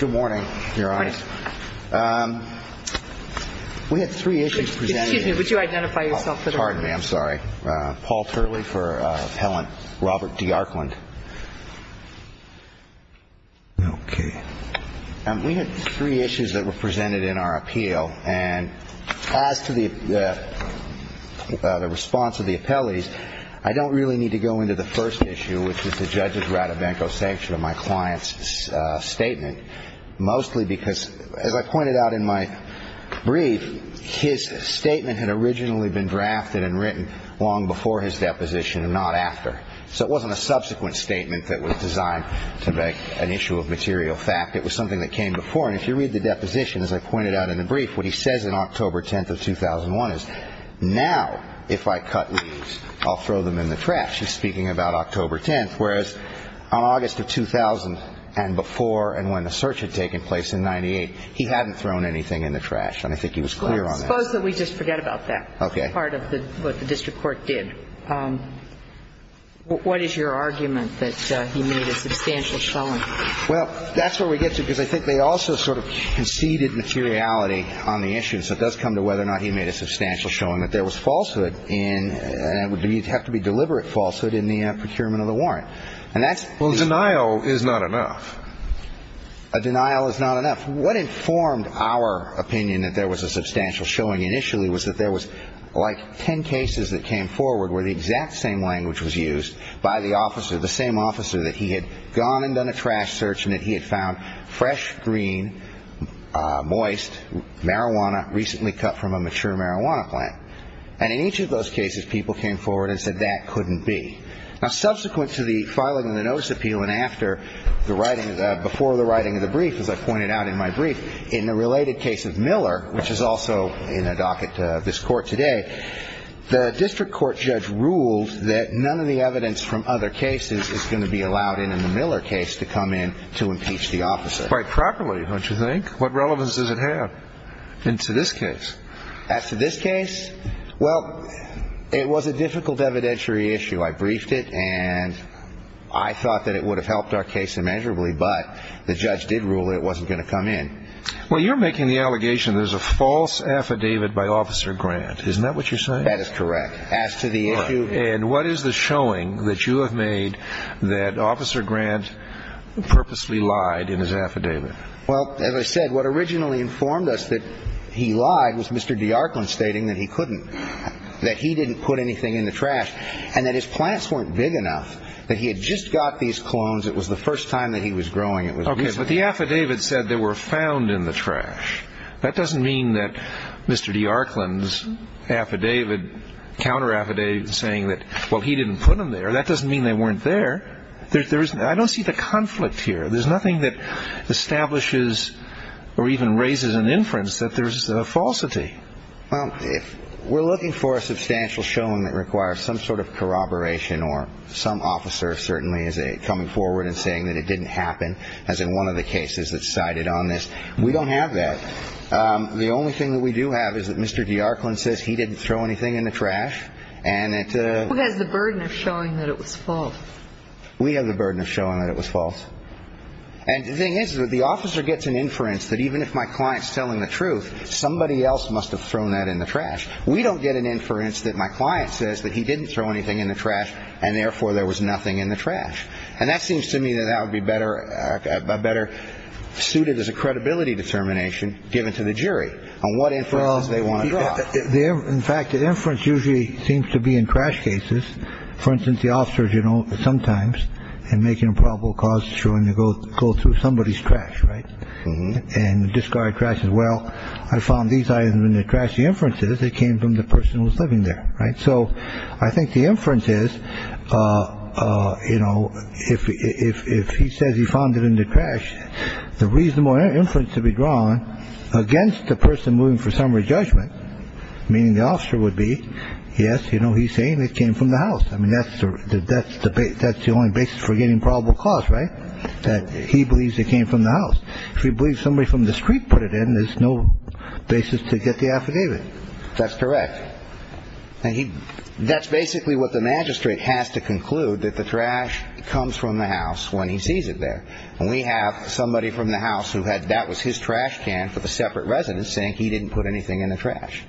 Good morning, Your Honor. We had three issues presented in our appeal, and as to the response of the appellees, I don't really need to go into the first issue, which is the judge's rat-a-bank-o sanction of my client's statement. Mostly because, as I pointed out in my brief, his statement had originally been drafted and written long before his deposition and not after. So it wasn't a subsequent statement that was designed to make an issue of material fact. It was something that came before, and if you read the deposition, as I pointed out in the brief, what he says in October 10th of 2001 is, now, if I cut leaves, I'll throw them in the trash. He's speaking about October 10th, whereas on August of 2000 and before and when the search had taken place in 98, he hadn't thrown anything in the trash, and I think he was clear on that. Well, suppose that we just forget about that. Okay. Part of what the district court did. What is your argument that he made a substantial showing? Well, that's where we get to, because I think they also sort of conceded materiality on the issue. So it does come to whether or not he made a substantial showing that there was falsehood, and it would have to be deliberate falsehood in the procurement of the warrant. Well, denial is not enough. A denial is not enough. Now, what informed our opinion that there was a substantial showing initially was that there was like ten cases that came forward where the exact same language was used by the officer, the same officer that he had gone and done a trash search and that he had found fresh, green, moist marijuana recently cut from a mature marijuana plant. And in each of those cases, people came forward and said that couldn't be. Now, subsequent to the filing of the notice appeal and after the writing, before the writing of the brief, as I pointed out in my brief, in the related case of Miller, which is also in a docket of this court today, the district court judge ruled that none of the evidence from other cases is going to be allowed in in the Miller case to come in to impeach the officer. Quite properly, don't you think? What relevance does it have into this case? As to this case? Well, it was a difficult evidentiary issue. I briefed it and I thought that it would have helped our case immeasurably, but the judge did rule it wasn't going to come in. Well, you're making the allegation there's a false affidavit by Officer Grant. Isn't that what you're saying? That is correct. As to the issue. And what is the showing that you have made that Officer Grant purposely lied in his affidavit? Well, as I said, what originally informed us that he lied was Mr. DeArclan stating that he couldn't, that he didn't put anything in the trash, and that his plants weren't big enough, that he had just got these clones. It was the first time that he was growing them. Okay, but the affidavit said they were found in the trash. That doesn't mean that Mr. DeArclan's affidavit, counter-affidavit saying that, well, he didn't put them there, that doesn't mean they weren't there. I don't see the conflict here. There's nothing that establishes or even raises an inference that there's a falsity. Well, we're looking for a substantial showing that requires some sort of corroboration, or some officer certainly is coming forward and saying that it didn't happen, as in one of the cases that's cited on this. We don't have that. The only thing that we do have is that Mr. DeArclan says he didn't throw anything in the trash. Who has the burden of showing that it was false? We have the burden of showing that it was false. And the thing is that the officer gets an inference that even if my client's telling the truth, somebody else must have thrown that in the trash. We don't get an inference that my client says that he didn't throw anything in the trash, and therefore there was nothing in the trash. And that seems to me that that would be better suited as a credibility determination given to the jury on what inferences they want to draw. In fact, an inference usually seems to be in crash cases. For instance, the officers, you know, sometimes and making a probable cause showing to go go through somebody's trash. Right. And discard trash as well. I found these items in the trash. The inferences that came from the person who was living there. Right. So I think the inference is, you know, if if if he says he found it in the trash, the reasonable inference to be drawn against the person moving for summary judgment, meaning the officer would be. Yes. You know, he's saying it came from the house. I mean, that's that's the that's the only basis for getting probable cause. Right. That he believes it came from the house. We believe somebody from the street put it in. There's no basis to get the affidavit. That's correct. And that's basically what the magistrate has to conclude, that the trash comes from the house when he sees it there. And we have somebody from the house who had that was his trash can for the separate residents saying he didn't put anything in the trash.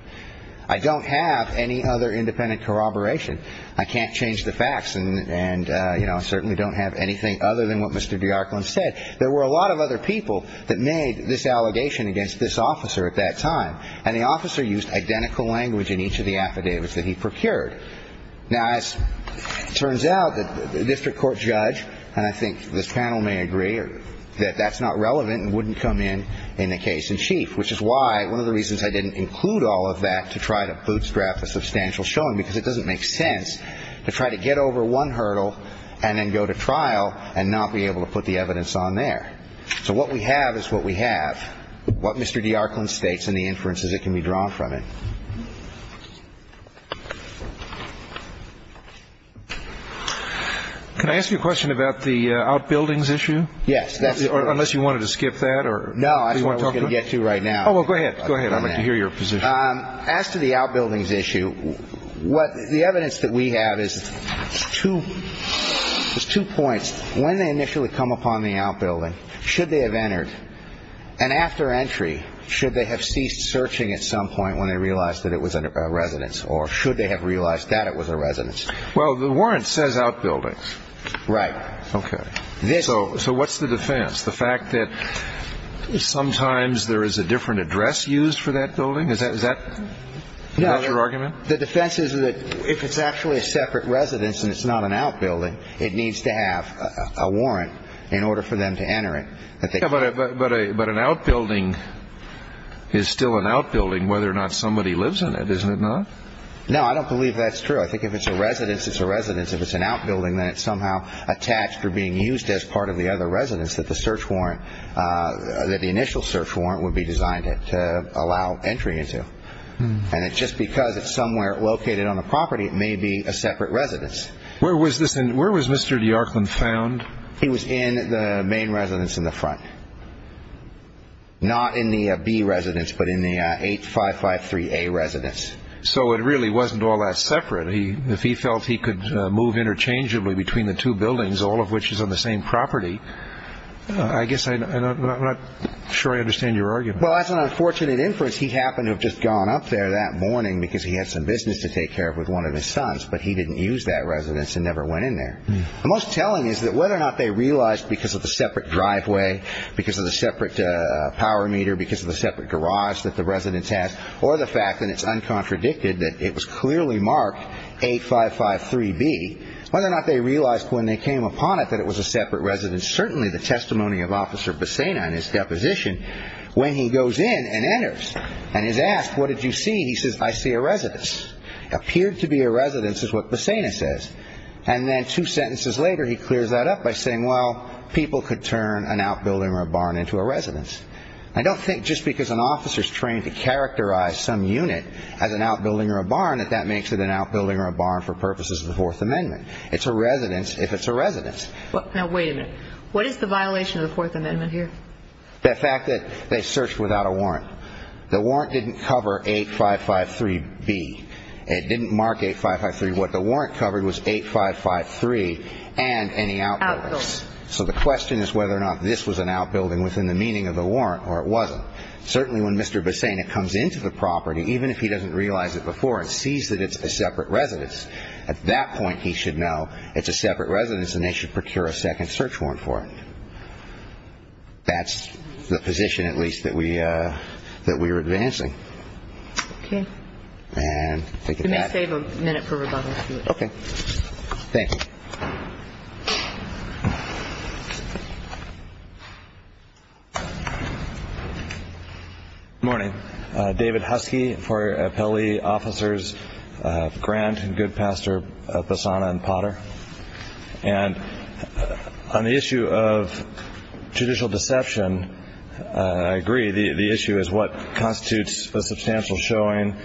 I don't have any other independent corroboration. I can't change the facts. And, you know, I certainly don't have anything other than what Mr. DeArco said. There were a lot of other people that made this allegation against this officer at that time. And the officer used identical language in each of the affidavits that he procured. Now, as it turns out, the district court judge. And I think this panel may agree that that's not relevant and wouldn't come in in the case in chief, which is why one of the reasons I didn't include all of that to try to bootstrap the substantial showing, because it doesn't make sense to try to get over one hurdle and then go to trial and not be able to put the evidence on there. So what we have is what we have. What Mr. DeArco and states in the inferences, it can be drawn from it. Can I ask you a question about the outbuildings issue? Yes. Unless you wanted to skip that or no, I want to get to right now. Oh, go ahead. Go ahead. I want to hear your position. As to the outbuildings issue, what the evidence that we have is two. There's two points when they initially come upon the outbuilding. Should they have entered an after entry? Should they have ceased searching at some point when they realized that it was a residence or should they have realized that it was a residence? Well, the warrant says outbuildings. Right. OK. So what's the defense? The fact that sometimes there is a different address used for that building. Is that that your argument? The defense is that if it's actually a separate residence and it's not an outbuilding, it needs to have a warrant in order for them to enter it. But an outbuilding is still an outbuilding whether or not somebody lives in it, isn't it? No, I don't believe that's true. I think if it's a residence, it's a residence. If it's an outbuilding, then it's somehow attached or being used as part of the other residence that the search warrant, that the initial search warrant would be designed to allow entry into. And it's just because it's somewhere located on the property. It may be a separate residence. Where was this and where was Mr. Yorkland found? He was in the main residence in the front. Not in the B residence, but in the eight five five three A residence. So it really wasn't all that separate. If he felt he could move interchangeably between the two buildings, all of which is on the same property. I guess I'm not sure I understand your argument. Well, as an unfortunate inference, he happened to have just gone up there that morning because he had some business to take care of with one of his sons. But he didn't use that residence and never went in there. The most telling is that whether or not they realized because of the separate driveway, because of the separate power meter, because of the separate garage that the residence has or the fact that it's uncontradicted, that it was clearly marked eight five five three B, whether or not they realized when they came upon it that it was a separate residence, certainly the testimony of Officer Bassena in his deposition when he goes in and enters and is asked, what did you see? He says, I see a residence. Appeared to be a residence is what Bassena says. And then two sentences later, he clears that up by saying, well, people could turn an outbuilding or a barn into a residence. I don't think just because an officer is trained to characterize some unit as an outbuilding or a barn that that makes it an outbuilding or a barn for purposes of the Fourth Amendment. It's a residence if it's a residence. Now, wait a minute. What is the violation of the Fourth Amendment here? The fact that they searched without a warrant. The warrant didn't cover eight five five three B. It didn't mark eight five five three. What the warrant covered was eight five five three and any outbuildings. So the question is whether or not this was an outbuilding within the meaning of the warrant or it wasn't. Certainly when Mr. Bassena comes into the property, even if he doesn't realize it before and sees that it's a separate residence, at that point he should know it's a separate residence and they should procure a second search warrant for it. That's the position, at least, that we that we are advancing. Okay. And let me save a minute for rebuttal. Okay. Thank you. Morning. David Husky for appellee officers. Grant and good pastor Bassana and Potter. And on the issue of judicial deception, I agree. The issue is what constitutes a substantial showing.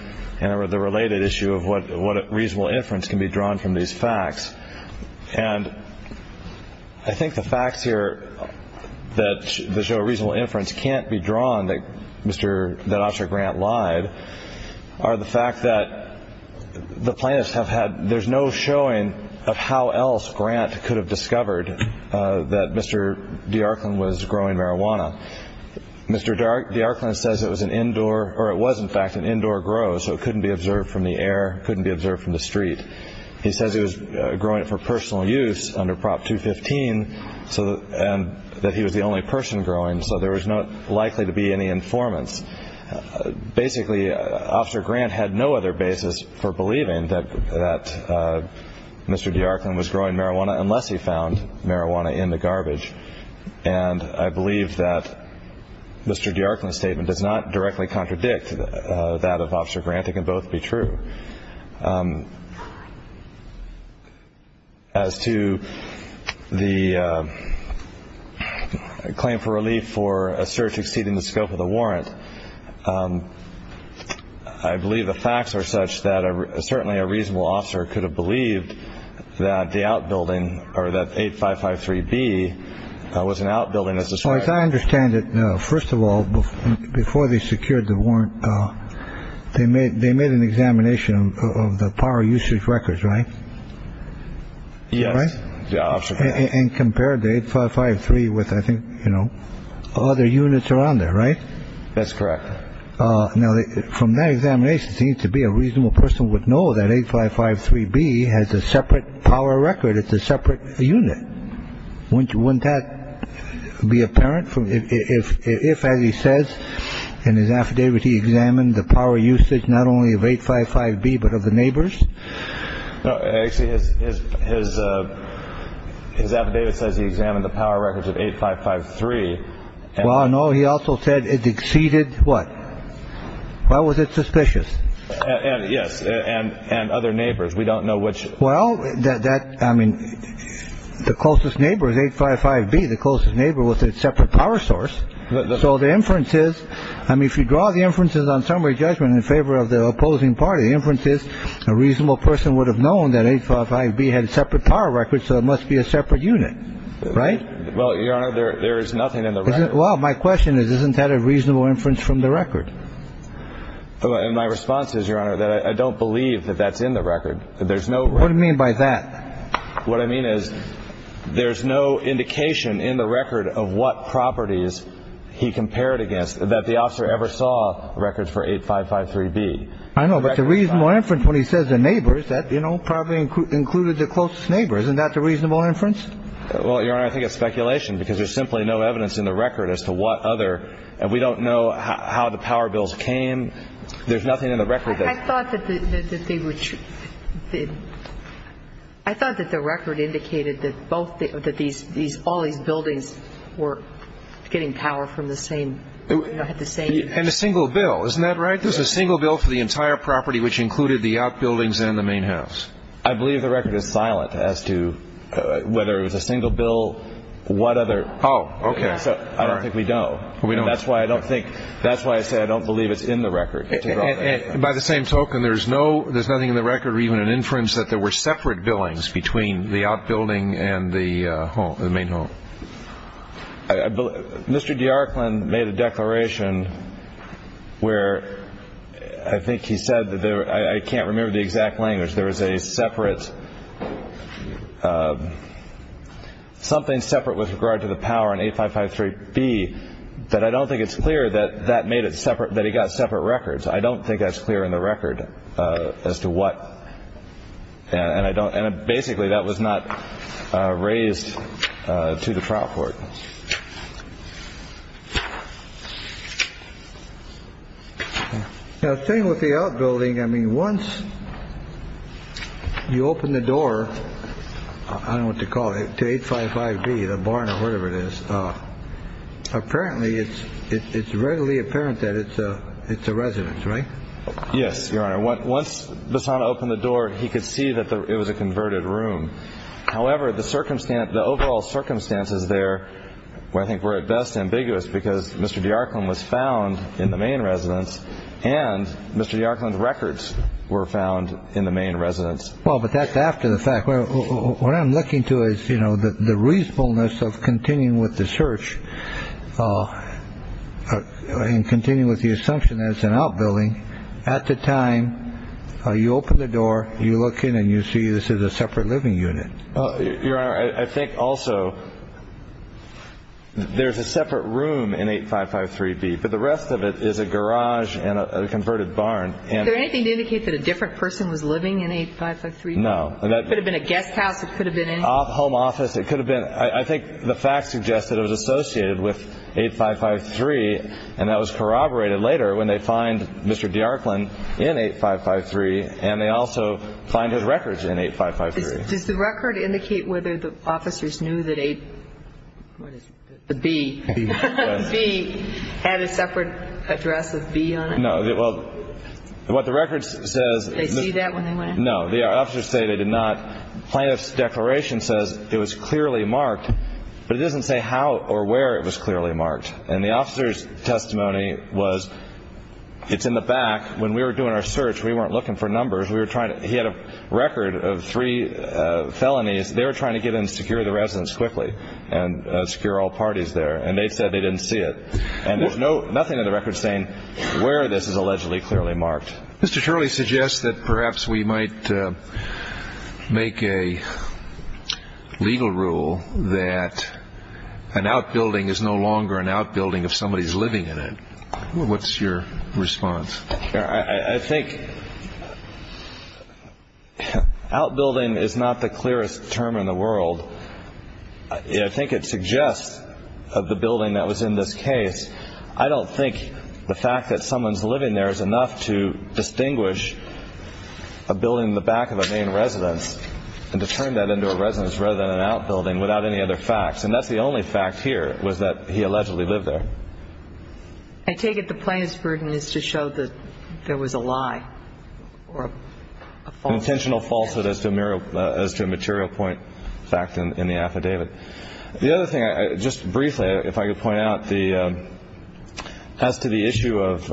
And the related issue of what reasonable inference can be drawn from these facts. And I think the facts here that show reasonable inference can't be drawn that Mr. That officer Grant lied are the fact that the plaintiffs have had. There's no showing of how else Grant could have discovered that Mr. was growing marijuana. Mr. says it was an indoor or it was, in fact, an indoor grow. So it couldn't be observed from the air. Couldn't be observed from the street. He says he was growing it for personal use under Prop 215. So and that he was the only person growing. So there was not likely to be any informants. Basically, Officer Grant had no other basis for believing that that Mr. was growing marijuana unless he found marijuana in the garbage. And I believe that Mr. statement does not directly contradict that of Officer Grant. It can both be true. As to the claim for relief for a search exceeding the scope of the warrant, I believe the facts are such that certainly a reasonable officer could have believed that the outbuilding or that 8 5 5 3 B was an outbuilding. As far as I understand it. First of all, before they secured the warrant, they made they made an examination of the power usage records. Right. Yes. And compared the 8 5 5 3 with I think, you know, other units around there. Right. That's correct. Now, from that examination, it seems to be a reasonable person would know that 8 5 5 3 B has a separate power record. It's a separate unit. Wouldn't wouldn't that be apparent from if as he says in his affidavit, he examined the power usage not only of 8 5 5 B, but of the neighbors. Actually, his his his his affidavit says he examined the power records of 8 5 5 3. Well, no. He also said it exceeded what. Why was it suspicious? And yes. And and other neighbors. We don't know which. Well, that I mean, the closest neighbor is 8 5 5 B. The closest neighbor was a separate power source. So the inferences. I mean, if you draw the inferences on summary judgment in favor of the opposing party, the inference is a reasonable person would have known that 8 5 5 B had a separate power record. So it must be a separate unit. Right. Well, your honor, there is nothing in the. Well, my question is, isn't that a reasonable inference from the record? And my response is, your honor, that I don't believe that that's in the record. There's no what I mean by that. What I mean is there's no indication in the record of what properties he compared against that. I don't believe that the officer ever saw records for 8 5 5 3 B. I know, but the reasonable inference when he says the neighbors that, you know, probably included the closest neighbor. Isn't that the reasonable inference? Well, your honor, I think it's speculation because there's simply no evidence in the record as to what other. And we don't know how the power bills came. There's nothing in the record. I thought that they would. I thought that the record indicated that both that these these all these buildings were getting power from the same. And a single bill. Isn't that right? There's a single bill for the entire property, which included the outbuildings and the main house. I believe the record is silent as to whether it was a single bill. What other. Oh, OK. So I don't think we know. We know. That's why I don't think that's why I say I don't believe it's in the record. And by the same token, there's no there's nothing in the record or even an inference that there were separate billings between the outbuilding and the main home. I believe Mr. DeArclan made a declaration where I think he said that I can't remember the exact language. There is a separate something separate with regard to the power and 8 5 5 3 B. But I don't think it's clear that that made it separate, that he got separate records. I don't think that's clear in the record as to what. And I don't. And basically that was not raised to the trial court. Now, same with the outbuilding. I mean, once you open the door, I don't want to call it to 8 5 5 B, the barn or whatever it is. Apparently it's it's readily apparent that it's a it's a residence, right? Yes, Your Honor. What? Once the son opened the door, he could see that it was a converted room. However, the circumstance, the overall circumstances there where I think we're at best ambiguous because Mr. DeArclan was found in the main residence and Mr. DeArclan records were found in the main residence. Well, but that's after the fact. What I'm looking to is, you know, the reasonableness of continuing with the search and continuing with the assumption that it's an outbuilding. At the time you open the door, you look in and you see this is a separate living unit. Your Honor, I think also there's a separate room in 8 5 5 3 B. But the rest of it is a garage and a converted barn. Is there anything to indicate that a different person was living in 8 5 5 3? No. It could have been a guest house. It could have been a home office. It could have been. I think the facts suggested it was associated with 8 5 5 3. And that was corroborated later when they find Mr. DeArclan in 8 5 5 3. And they also find his records in 8 5 5 3. Does the record indicate whether the officers knew that a B had a separate address of B on it? No. Well, what the record says. Did they see that when they went in? No. The officers say they did not. Plaintiff's declaration says it was clearly marked, but it doesn't say how or where it was clearly marked. And the officer's testimony was it's in the back. When we were doing our search, we weren't looking for numbers. He had a record of three felonies. They were trying to get in and secure the residence quickly and secure all parties there. And they said they didn't see it. And there's nothing in the record saying where this is allegedly clearly marked. Mr. Shirley suggests that perhaps we might make a legal rule that an outbuilding is no longer an outbuilding if somebody is living in it. What's your response? I think outbuilding is not the clearest term in the world. I think it suggests of the building that was in this case. I don't think the fact that someone's living there is enough to distinguish a building in the back of a main residence and to turn that into a residence rather than an outbuilding without any other facts. And that's the only fact here was that he allegedly lived there. I take it the plaintiff's burden is to show that there was a lie or a falsehood. An intentional falsehood as to a material point fact in the affidavit. The other thing, just briefly, if I could point out, as to the issue of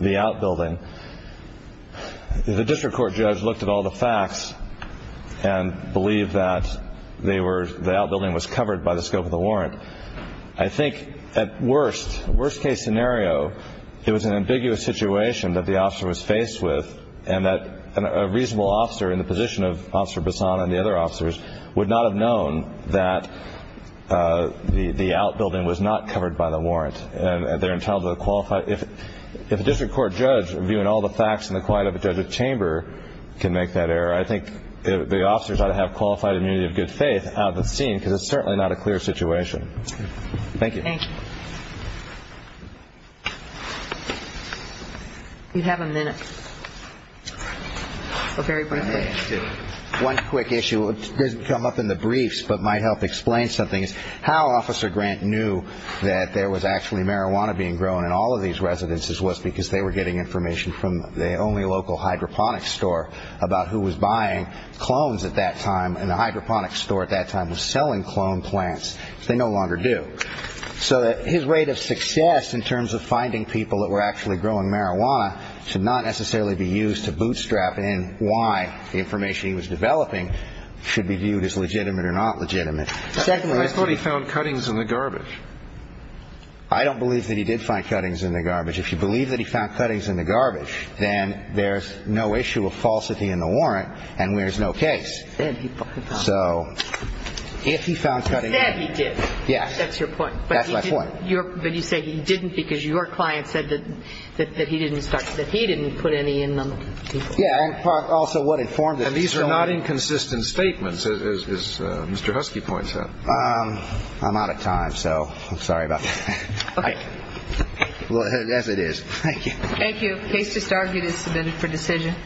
the outbuilding, the district court judge looked at all the facts and believed that the outbuilding was covered by the scope of the warrant. I think at worst, worst-case scenario, it was an ambiguous situation that the officer was faced with and that a reasonable officer in the position of Officer Bassan and the other officers would not have known that the outbuilding was not covered by the warrant. And they're entitled to a qualified – if a district court judge, viewing all the facts in the quiet of a judge's chamber, can make that error, I think the officers ought to have qualified immunity of good faith out on the scene because it's certainly not a clear situation. Thank you. Thank you. You have a minute. One quick issue. It doesn't come up in the briefs but might help explain something. How Officer Grant knew that there was actually marijuana being grown in all of these residences was because they were getting information from the only local hydroponic store about who was buying clones at that time, and the hydroponic store at that time was selling clone plants. They no longer do. So his rate of success in terms of finding people that were actually growing marijuana should not necessarily be used to bootstrap in why the information he was developing should be viewed as legitimate or not legitimate. I thought he found cuttings in the garbage. I don't believe that he did find cuttings in the garbage. If you believe that he found cuttings in the garbage, then there's no issue of falsity in the warrant and there's no case. So if he found cuttings – That's your point. That's my point. But you say he didn't because your client said that he didn't start – that he didn't put any in them. Yeah, and also what informed it. And these are not inconsistent statements, as Mr. Husky points out. I'm out of time, so I'm sorry about that. Okay. Well, as it is. Thank you. Thank you. Case to start is submitted for decision.